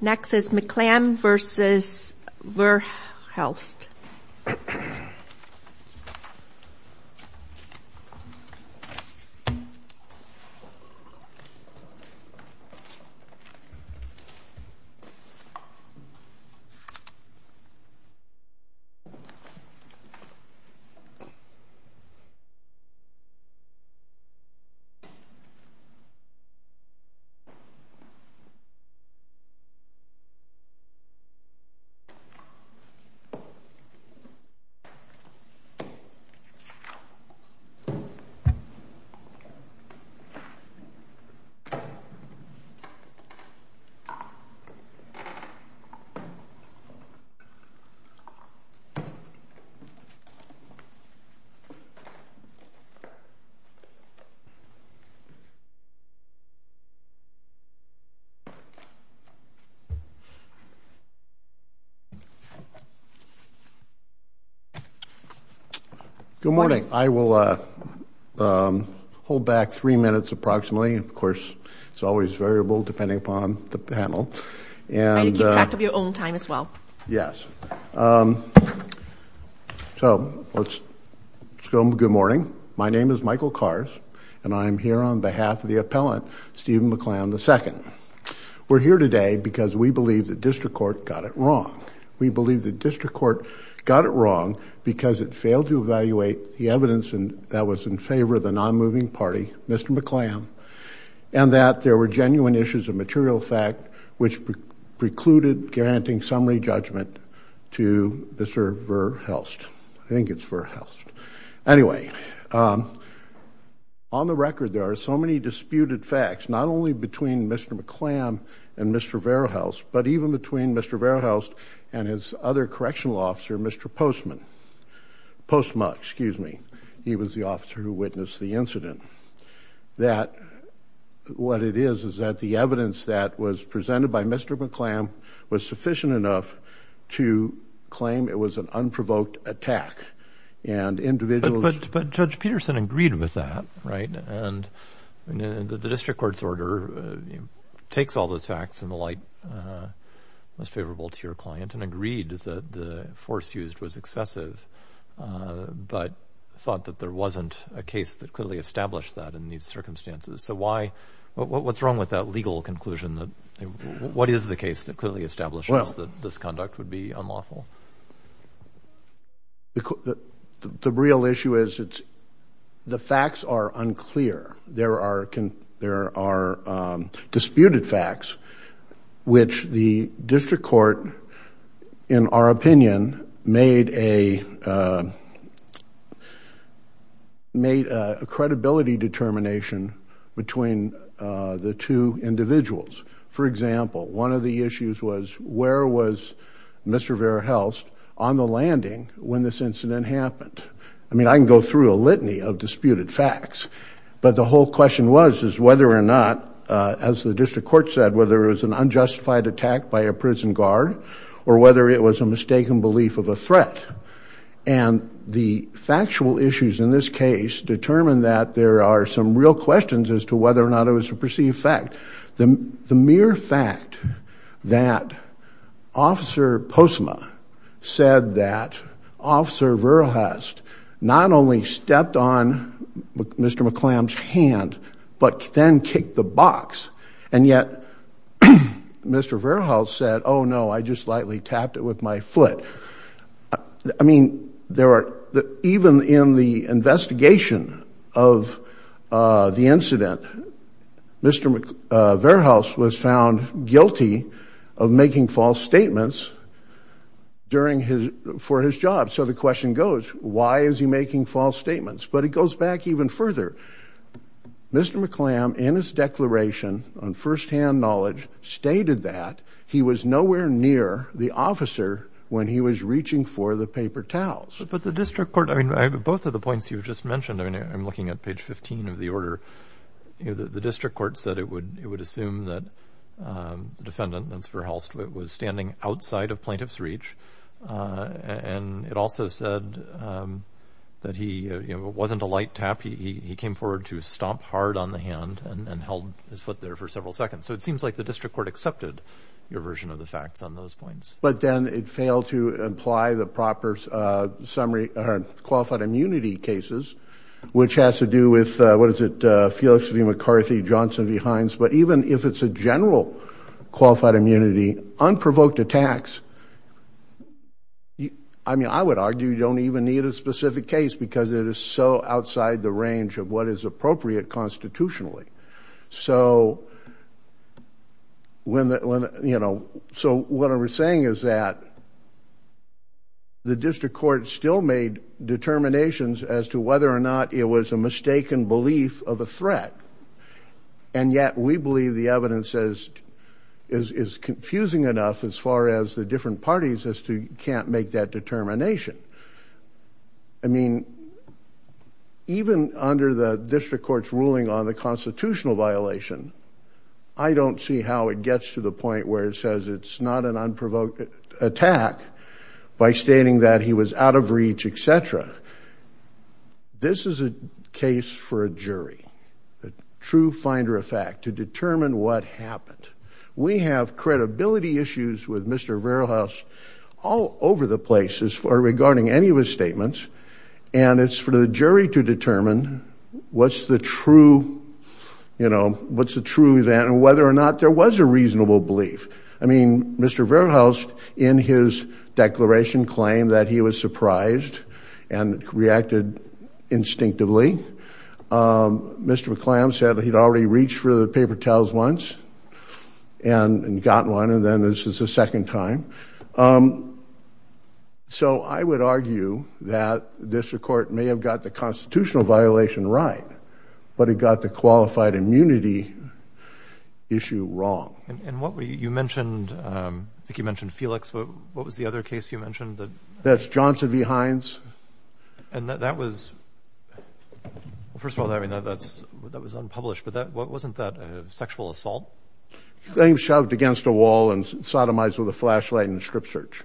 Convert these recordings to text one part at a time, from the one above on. Next is McClam v. Verhelst. Good morning. I will hold back three minutes approximately, and of course, it's always variable depending upon the panel. And keep track of your own time as well. Yes. So let's go on with good morning. My name is Michael Kars, and I'm here on behalf of the appellant, Stephen McClam, II. We're here today because we believe the district court got it wrong. We believe the district court got it wrong because it failed to evaluate the evidence that was in favor of the non-moving party, Mr. McClam, and that there were genuine issues of material fact which precluded granting summary judgment to Mr. Verhelst. I think it's Verhelst. Anyway, on the record, there are so many disputed facts, not only between Mr. McClam and Mr. Verhelst, but even between Mr. Verhelst and his other correctional officer, Mr. Postma. He was the officer who witnessed the incident. What it is is that the evidence that was presented by Mr. McClam was sufficient enough to claim it was an unprovoked attack. But Judge Peterson agreed with that, right? And the district court's order takes all those facts in the light most favorable to your client and agreed that the force used was excessive, but thought that there wasn't a case that clearly established that in these circumstances. So what's wrong with that legal conclusion? What is the case that clearly establishes that this conduct would be unlawful? The real issue is the facts are unclear. There are disputed facts which the district court, in our opinion, made a credibility determination between the two individuals. For example, one of the issues was where was Mr. Verhelst on the landing when this incident happened? I mean, I can go through a litany of disputed facts, but the whole question was, is whether or not, as the district court said, whether it was an unjustified attack by a prison guard or whether it was a mistaken belief of a threat. And the factual issues in this case determined that there are some real questions as to whether or not it was a perceived fact. The mere fact that officer Posma said that officer Verhelst not only stepped on Mr. McClam's hand, but then kicked the box. And yet, Mr. Verhelst said, oh no, I just lightly tapped it with my foot. I mean, even in the investigation of the incident, Mr. Verhelst was found guilty of making false statements for his job. So the question goes, why is he making false statements? But it goes back even further. Mr. McClam, in his declaration on firsthand knowledge, stated that he was nowhere near the defendant when he was reaching for the paper towels. But the district court, I mean, both of the points you just mentioned, I mean, I'm looking at page 15 of the order, the district court said it would, it would assume that the defendant, that's Verhelst, was standing outside of plaintiff's reach. And it also said that he, you know, it wasn't a light tap. He came forward to stomp hard on the hand and held his foot there for several seconds. So it seems like the district court accepted your version of the facts on those points. But then it failed to imply the proper summary, or qualified immunity cases, which has to do with, what is it, Felicity McCarthy, Johnson v. Hines. But even if it's a general qualified immunity, unprovoked attacks, I mean, I would argue you don't even need a specific case because it is so outside the range of what is appropriate constitutionally. So when, you know, so what I was saying is that the district court still made determinations as to whether or not it was a mistaken belief of a threat. And yet we believe the evidence is confusing enough as far as the different parties as to, you can't make that determination. I mean, even under the district court's ruling on the constitutional violation, I don't see how it gets to the point where it says it's not an unprovoked attack by stating that he was out of reach, et cetera. This is a case for a jury, a true finder of fact, to determine what happened. We have credibility issues with Mr. McClammy regarding any of his statements and it's for the jury to determine what's the true, you know, what's the truth and whether or not there was a reasonable belief. I mean, Mr. Verhuis in his declaration claimed that he was surprised and reacted instinctively. Mr. McClammy said that he'd already reached for the paper towels once and got one. And then this is the second time. So I would argue that the district court may have got the constitutional violation right, but it got the qualified immunity issue wrong. And what were you mentioned? I think you mentioned Felix. What was the other case you mentioned? That's Johnson v. Hines. And that was, first of all, I mean, that was unpublished, but wasn't that a sexual assault? They shoved against a wall and sodomized with a flashlight and strip search.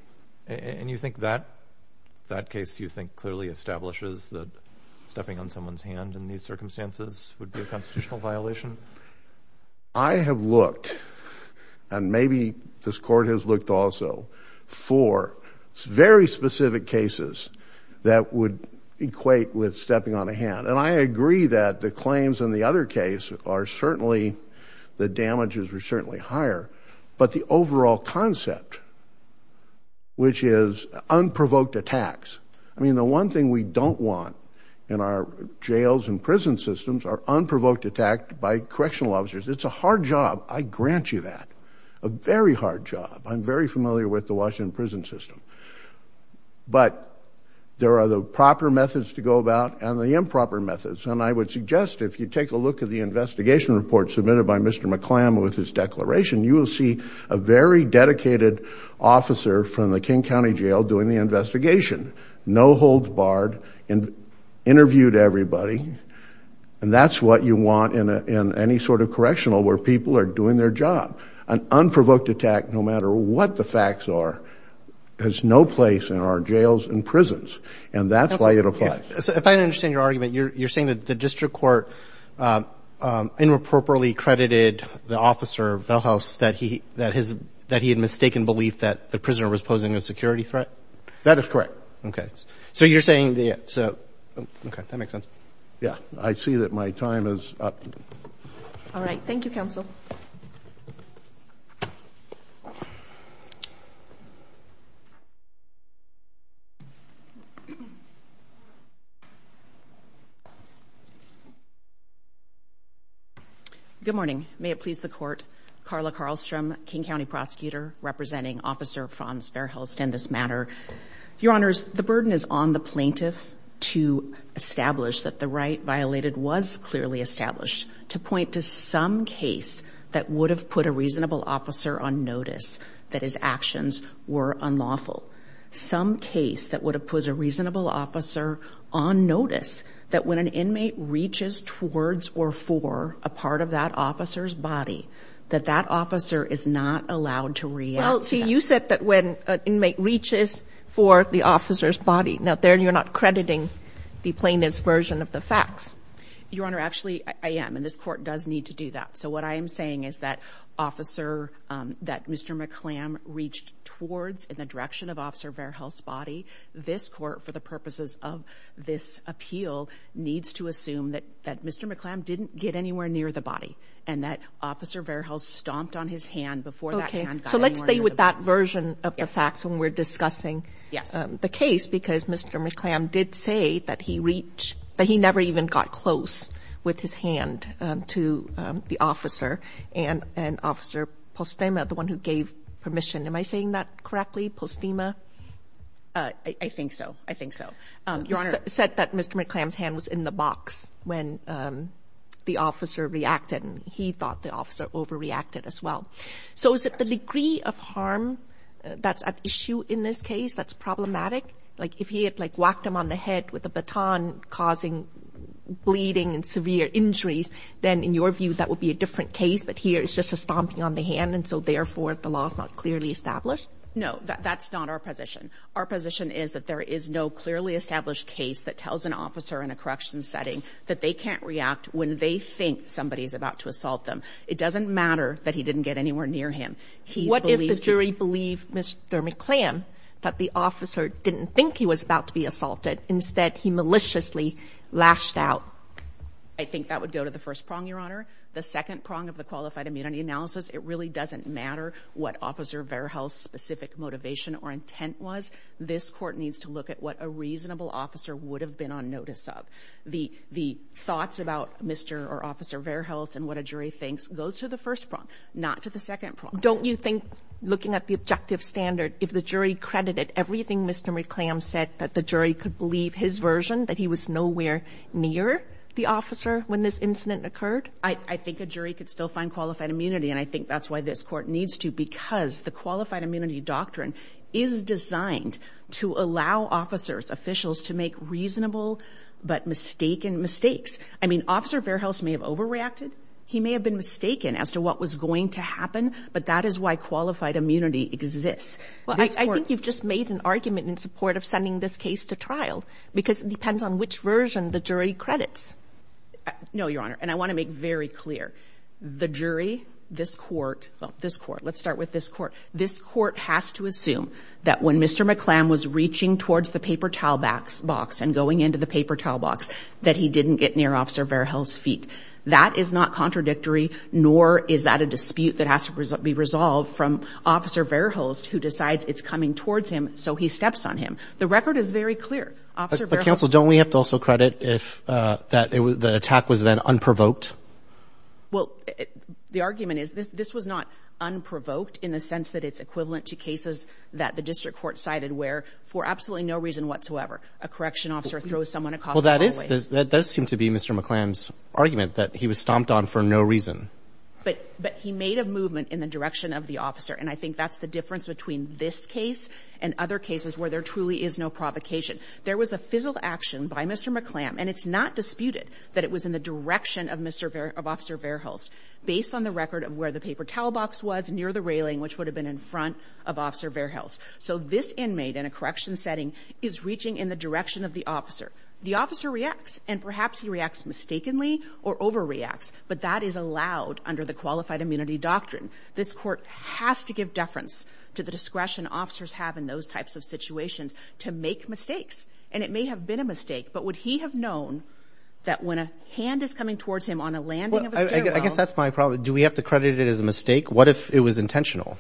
And you think that that case you think clearly establishes that stepping on someone's hand in these circumstances would be a constitutional violation? I have looked, and maybe this court has looked also, for very specific cases that would equate with stepping on a hand. And I agree that the claims in the other case are certainly, the damages were certainly higher, but the overall concept, which is unprovoked attacks. I mean, the one thing we don't want in our jails and prison systems are unprovoked attack by correctional officers. It's a hard job. I grant you that. A very hard job. I'm very familiar with the Washington prison system. But there are the proper methods to go about and the improper methods. And I would suggest if you take a look at the investigation report submitted by Mr. McClam with his declaration, you will see a very dedicated officer from the King County jail doing the investigation. No holds barred, interviewed everybody. And that's what you want in any sort of correctional where people are doing their job. An unprovoked attack, no matter what the facts are, has no place in our jails and prisons. And that's why it applies. So if I understand your argument, you're saying that the district court inappropriately credited the officer, Veldhuis, that he had mistaken belief that the prisoner was posing a security threat? That is correct. Okay. So you're saying that, so, okay, that makes sense. I see that my time is up. All right. Thank you, counsel. Good morning. May it please the court. Carla Karlstrom, King County prosecutor representing Officer Franz Verhulst in this matter. Your honors, the burden is on the plaintiff to establish that the right violated was clearly established to point to some case that would have put a reasonable officer on notice that his actions were unlawful. Some case that would have put a reasonable officer on notice that when an inmate reaches towards or for a part of that officer's body, that that officer is not allowed to react. Well, see, you said that when an inmate reaches for the officer's body, now there you're not crediting the plaintiff's version of the facts. Your honor, actually, I am. And this court does need to do that. So what I am saying is that officer that Mr. McClam reached towards in the direction of Officer Verhulst's body, this court, for the purposes of this appeal, needs to assume that that Mr. McClam didn't get anywhere near the body and that Officer Verhulst stomped on his hand before that hand got anywhere near the body. So let's stay with that version of the facts when we're discussing the case, because Mr. McClam did say that he reached, that he never even got close with his hand to the officer and Officer Postema, the one who gave permission. Am I saying that correctly? Postema? I think so. I think so. Your honor. Said that Mr. McClam's hand was in the box when the officer reacted and he thought the officer overreacted as well. So is it the degree of harm that's at issue in this case that's problematic? Like if he had, like, whacked him on the head with a baton, causing bleeding and severe injuries, then, in your view, that would be a different case. But here it's just a stomping on the hand, and so, therefore, the law is not clearly established? No. That's not our position. Our position is that there is no clearly established case that tells an officer in a correction setting that they can't react when they think somebody is about to assault them. It doesn't matter that he didn't get anywhere near him. What if the jury believed Mr. McClam that the officer didn't think he was about to be assaulted? Instead, he maliciously lashed out? I think that would go to the first prong, your honor. The second prong of the qualified immunity analysis, it really doesn't matter what Officer Verhulst's specific motivation or intent was. This court needs to look at what a reasonable officer would have been on notice of. The thoughts about Mr. or Officer Verhulst and what a jury thinks goes to the first prong, not to the second prong. Don't you think looking at the objective standard, if the jury credited everything Mr. McClam said that the jury could believe his version, that he was nowhere near the officer when this incident occurred? I think a jury could still find qualified immunity, and I think that's why this court needs to, because the qualified immunity doctrine is designed to allow officers, officials to make reasonable but mistaken mistakes. I mean, Officer Verhulst may have overreacted. He may have been mistaken as to what was going to happen, but that is why qualified immunity exists. Well, I think you've just made an argument in support of sending this case to trial because it depends on which version the jury credits. No, your honor. And I want to make very clear the jury, this court, this court, let's start with this court. This court has to assume that when Mr. McClam was reaching towards the paper towel box and going into the paper towel box that he didn't get near Officer Verhulst's feet. That is not contradictory, nor is that a dispute that has to be resolved from Officer Verhulst, who decides it's coming towards him. So he steps on him. The record is very clear. But counsel, don't we have to also credit if that the attack was then unprovoked? Well, the argument is this was not unprovoked in the sense that it's equivalent to cases that the district court cited, where for absolutely no reason whatsoever, a correction officer throws someone across the hallway. That does seem to be Mr. McClam's argument that he was stomped on for no reason. But but he made a movement in the direction of the officer. And I think that's the difference between this case and other cases where there truly is no provocation. There was a fizzled action by Mr. McClam, and it's not disputed that it was in the direction of Mr. Verhulst, of Officer Verhulst, based on the record of where the paper towel box was near the railing, which would have been in front of Officer Verhulst. So this inmate in a correction setting is reaching in the direction of the officer. The officer reacts and perhaps he reacts mistakenly or overreacts. But that is allowed under the qualified immunity doctrine. This court has to give deference to the discretion officers have in those types of situations to make mistakes. And it may have been a mistake. But would he have known that when a hand is coming towards him on a landing? I guess that's my problem. Do we have to credit it as a mistake? What if it was intentional?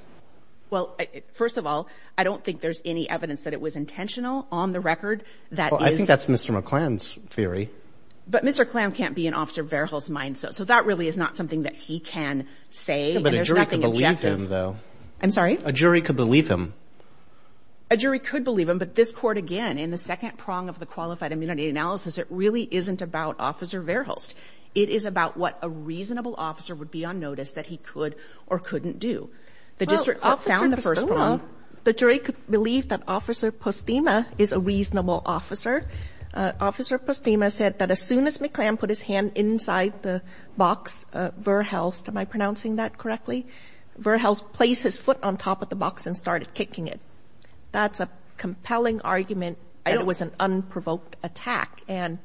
Well, first of all, I don't think there's any evidence that it was intentional on the record that I think that's Mr. McClam's theory. But Mr. Clam can't be an officer Verhulst mindset. So that really is not something that he can say. But there's nothing objective, though. I'm sorry. A jury could believe him. A jury could believe him, but this court, again, in the second prong of the qualified immunity analysis, it really isn't about Officer Verhulst. It is about what a reasonable officer would be on notice that he could or couldn't do. The district found the first one. The jury could believe that Officer Postema is a reasonable officer. Officer Postema said that as soon as McClam put his hand inside the box, Verhulst, am I pronouncing that correctly? Verhulst placed his foot on top of the box and started kicking it. That's a compelling argument. It was an unprovoked attack. And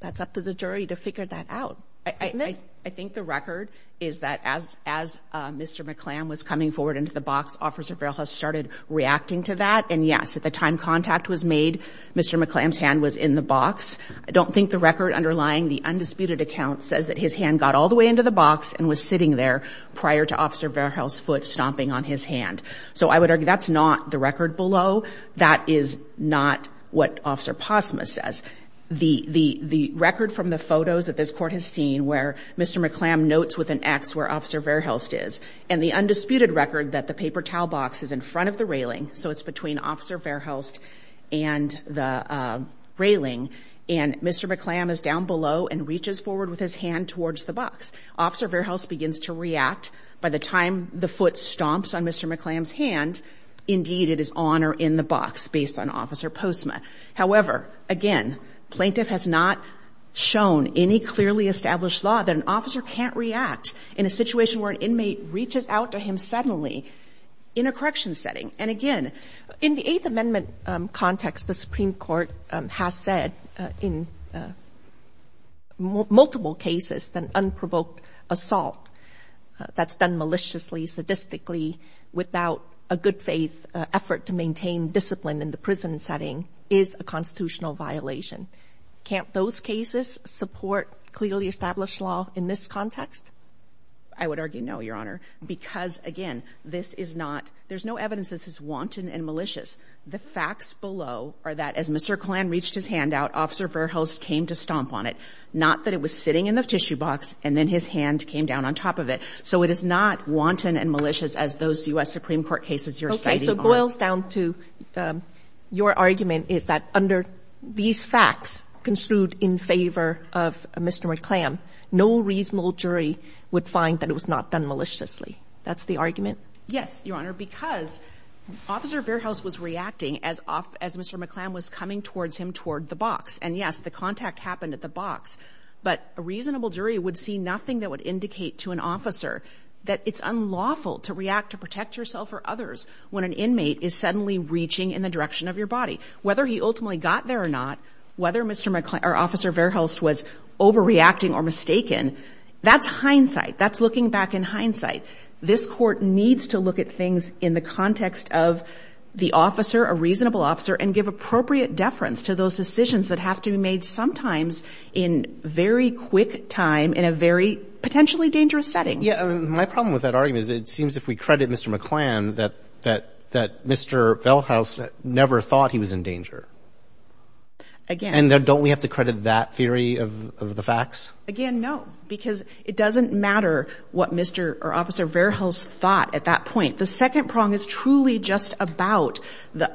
that's up to the jury to figure that out. I think the record is that as as Mr. McClam was coming forward into the box, Officer Verhulst started reacting to that. And yes, at the time contact was made, Mr. McClam's hand was in the box. I don't think the record underlying the undisputed account says that his hand got all the way into the box and was sitting there prior to Officer Verhulst's foot stomping on his hand. So I would argue that's not the record below. That is not what Officer Postema says. The record from the photos that this court has seen where Mr. McClam notes with an X where Officer Verhulst is and the undisputed record that the paper towel box is in front of the railing. So it's between Officer Verhulst and the railing. And Mr. McClam is down below and reaches forward with his hand towards the box. Officer Verhulst begins to react by the time the foot stomps on Mr. McClam's hand. Indeed, it is on or in the box based on Officer Postema. However, again, plaintiff has not shown any clearly established law that an officer can't react in a situation where an inmate reaches out to him suddenly in a correction setting. And again, in the Eighth Amendment context, the Supreme Court has said in multiple cases that unprovoked assault that's done maliciously, sadistically without a good faith effort to maintain discipline in the prison setting is a constitutional violation. Can't those cases support clearly established law in this context? I would argue no, Your Honor, because again, this is not there's no evidence. This is wanton and malicious. The facts below are that as Mr. Clan reached his hand out, Officer Verhulst came to stomp on it, not that it was sitting in the tissue box and then his hand came down on top of it. So it is not wanton and malicious as those U.S. Supreme Court cases. So boils down to your argument is that under these facts construed in favor of Mr. McClam, no reasonable jury would find that it was not done maliciously. That's the argument. Yes, Your Honor, because Officer Verhulst was reacting as off as Mr. McClam was coming towards him toward the box. And yes, the contact happened at the box. But a reasonable jury would see nothing that would indicate to an officer that it's unlawful to react to protect yourself or others when an inmate is suddenly reaching in the direction of your body, whether he ultimately got there or not, whether Mr. McClam or Officer Verhulst was overreacting or mistaken. That's hindsight. That's looking back in hindsight. This court needs to look at things in the context of the officer, a reasonable officer, and give appropriate deference to those decisions that have to be made sometimes in very quick time in a very potentially dangerous setting. Yeah, my problem with that argument is it seems if we credit Mr. McClam that that that Mr. Verhulst never thought he was in danger. Again, don't we have to credit that theory of the facts again? No, because it doesn't matter what Mr. or Officer Verhulst thought at that point. The second prong is truly just about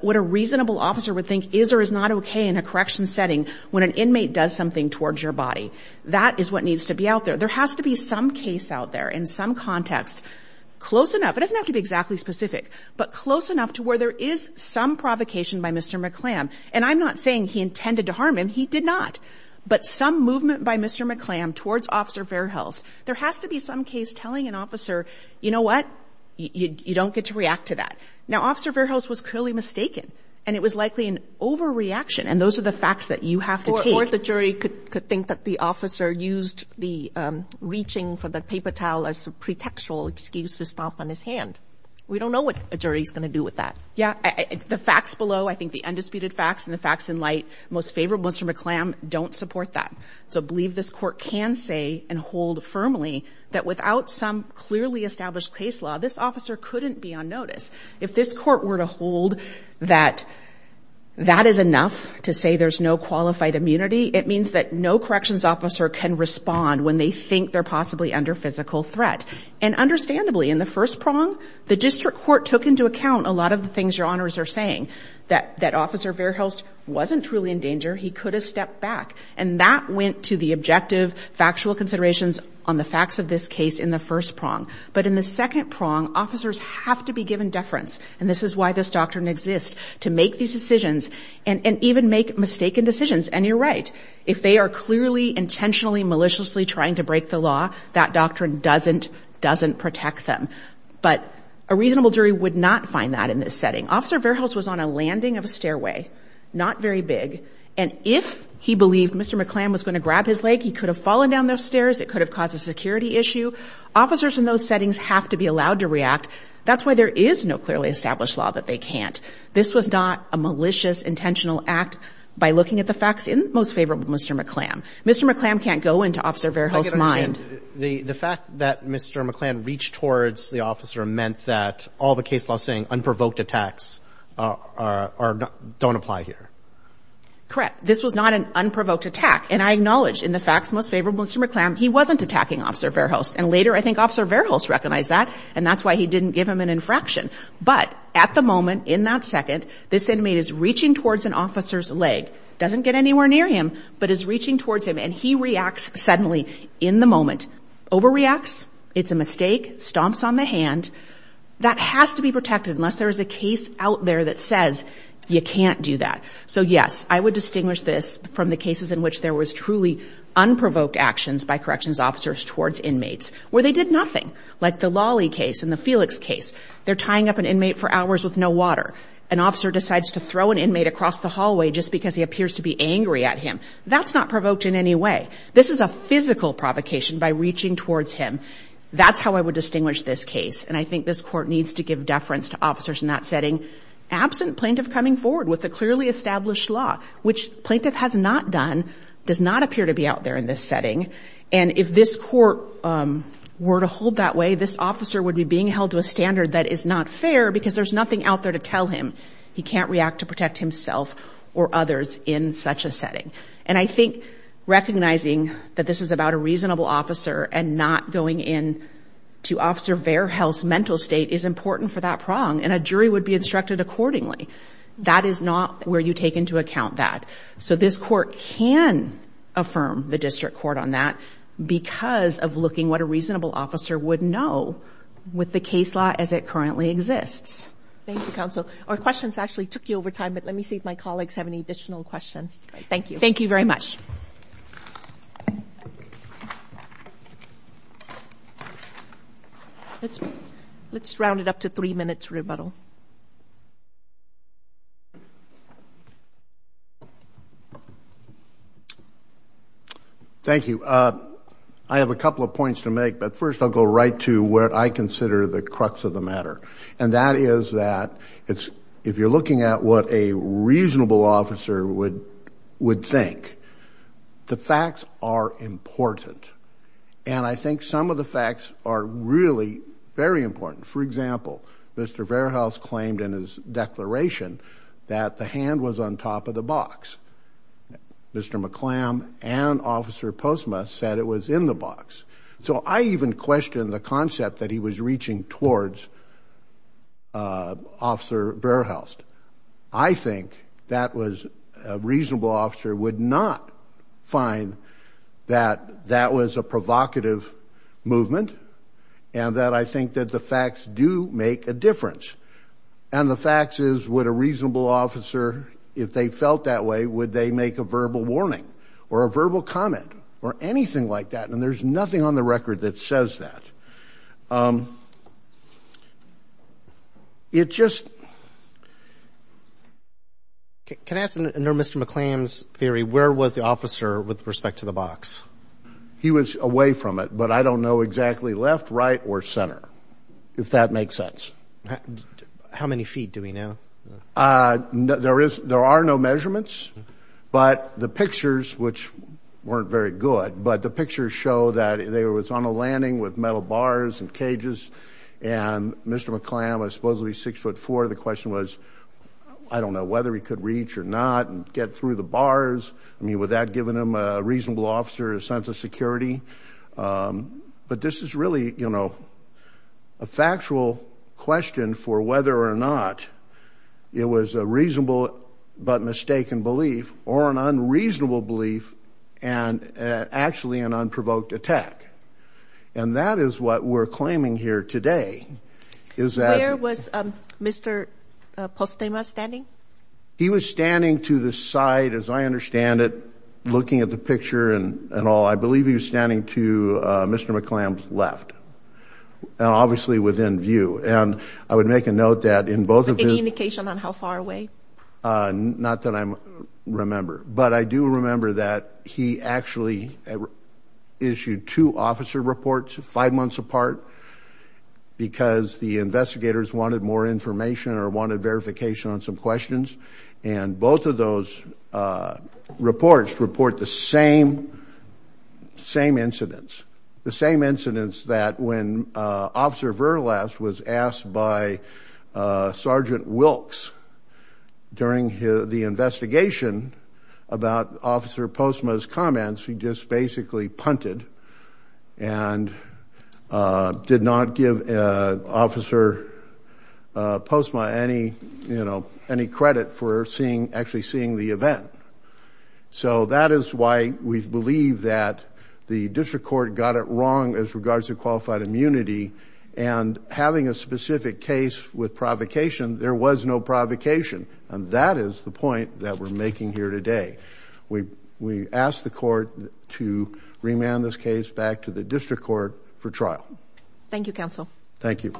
what a reasonable officer would think is or is not OK in a correction setting when an inmate does something towards your body. That is what needs to be out there. There has to be some case out there in some context close enough. It doesn't have to be exactly specific, but close enough to where there is some provocation by Mr. McClam. And I'm not saying he intended to harm him. He did not. But some movement by Mr. McClam towards Officer Verhulst, there has to be some case telling an officer, you know what, you don't get to react to that. Now, Officer Verhulst was clearly mistaken and it was likely an overreaction. And those are the facts that you have to take. Or the jury could could think that the officer used the reaching for the paper towel as a pretextual excuse to stomp on his hand. We don't know what a jury is going to do with that. Yeah, the facts below, I think the undisputed facts and the facts in light, most favorable Mr. McClam don't support that. So I believe this court can say and hold firmly that without some clearly established case law, this officer couldn't be on notice. If this court were to hold that that is enough to say there's no qualified immunity, it means that no corrections officer can respond when they think they're possibly under physical threat. And understandably, in the first prong, the district court took into account a lot of the things your honors are saying, that that Officer Verhulst wasn't truly in danger, he could have stepped back. And that went to the objective factual considerations on the facts of this case in the first prong. But in the second prong, officers have to be given deference. And this is why this doctrine exists to make these decisions and even make mistaken decisions. And you're right, if they are clearly intentionally maliciously trying to break the law, that doctrine doesn't doesn't protect them. But a reasonable jury would not find that in this setting. Officer Verhulst was on a landing of a stairway, not very big. And if he believed Mr. McClam was going to grab his leg, he could have fallen down those stairs. It could have caused a security issue. Officers in those settings have to be allowed to react. That's why there is no clearly established law that they can't. This was not a malicious, intentional act. By looking at the facts in most favorable, Mr. McClam, Mr. McClam can't go into Officer Verhulst's mind. The fact that Mr. McClam reached towards the officer meant that all the case law saying unprovoked attacks don't apply here. Correct. This was not an unprovoked attack. And I acknowledge in the facts, most favorable Mr. McClam, he wasn't attacking Officer Verhulst. And later, I think Officer Verhulst recognized that. And that's why he didn't give him an infraction. But at the moment, in that second, this inmate is reaching towards an officer's leg, doesn't get anywhere near him, but is reaching towards him. And he reacts suddenly in the moment. Overreacts. It's a mistake. Stomps on the hand. That has to be protected unless there is a case out there that says you can't do that. So yes, I would distinguish this from the cases in which there was truly unprovoked actions by corrections officers towards inmates, where they did nothing like the Lolly case and the Felix case, they're tying up an inmate for hours with no water. An officer decides to throw an inmate across the hallway just because he appears to be angry at him. That's not provoked in any way. This is a physical provocation by reaching towards him. That's how I would distinguish this case. And I think this court needs to give deference to officers in that setting. Absent plaintiff coming forward with a clearly established law, which plaintiff has not done, does not appear to be out there in this setting. And if this court were to hold that way, this officer would be being held to a standard that is not fair because there's nothing out there to tell him. He can't react to protect himself or others in such a setting. And I think recognizing that this is about a reasonable officer and not going in to Officer Verhulst's mental state is important for that prong. And a jury would be instructed accordingly. That is not where you take into account that. So this court can affirm the district court on that because of looking what a reasonable officer would know with the case law as it currently exists. Thank you, counsel. Our questions actually took you over time, but let me see if my colleagues have any additional questions. Thank you. Thank you very much. Let's round it up to three minutes rebuttal. Thank you. I have a couple of points to make, but first I'll go right to where I consider the crux of the matter. And that is that it's, if you're looking at what a reasonable officer would think, the facts are important. And I think some of the facts are really very important. For example, Mr. Verhulst claimed in his declaration that the hand was on top of the box. Mr. McClam and officer Postma said it was in the box. So I even questioned the concept that he was reaching towards officer Verhulst. I think that was a reasonable officer would not find that that was a provocative movement and that I think that the facts do make a difference. And the facts is what a reasonable officer, if they felt that way, would they make a verbal warning or a verbal comment or anything like that? And there's nothing on the record that says that. Um, it just, can I ask, under Mr. McClam's theory, where was the officer with respect to the box? He was away from it, but I don't know exactly left, right, or center, if that makes sense. How many feet do we know? Uh, there is, there are no measurements, but the pictures, which weren't very good, but the pictures show that there was on a landing with metal bars and cages and Mr. McClam was supposedly six foot four. The question was, I don't know whether he could reach or not and get through the bars, I mean, would that given him a reasonable officer, a sense of security? Um, but this is really, you know, a factual question for whether or not it was a reasonable, but mistaken belief or an unreasonable belief and, uh, actually an unprovoked attack. And that is what we're claiming here today. Is that- Where was, um, Mr. Postema standing? He was standing to the side, as I understand it, looking at the picture and all. I believe he was standing to, uh, Mr. McClam's left and obviously within view. And I would make a note that in both of his- Any indication on how far away? Uh, not that I remember, but I do remember that he actually issued two officer reports five months apart because the investigators wanted more information or wanted verification on some questions. And both of those, uh, reports report the same, same incidents. The same incidents that when, uh, officer Verlas was asked by, uh, Sergeant Wilkes during the investigation about officer Postema's comments, he just basically punted and, uh, did not give, uh, officer, uh, Postema any, you know, any credit for seeing, actually seeing the event. So that is why we believe that the district court got it wrong as regards to qualified immunity and having a specific case with provocation, there was no provocation, and that is the point that we're making here today. We, we asked the court to remand this case back to the district court for trial. Thank you, counsel. Thank you.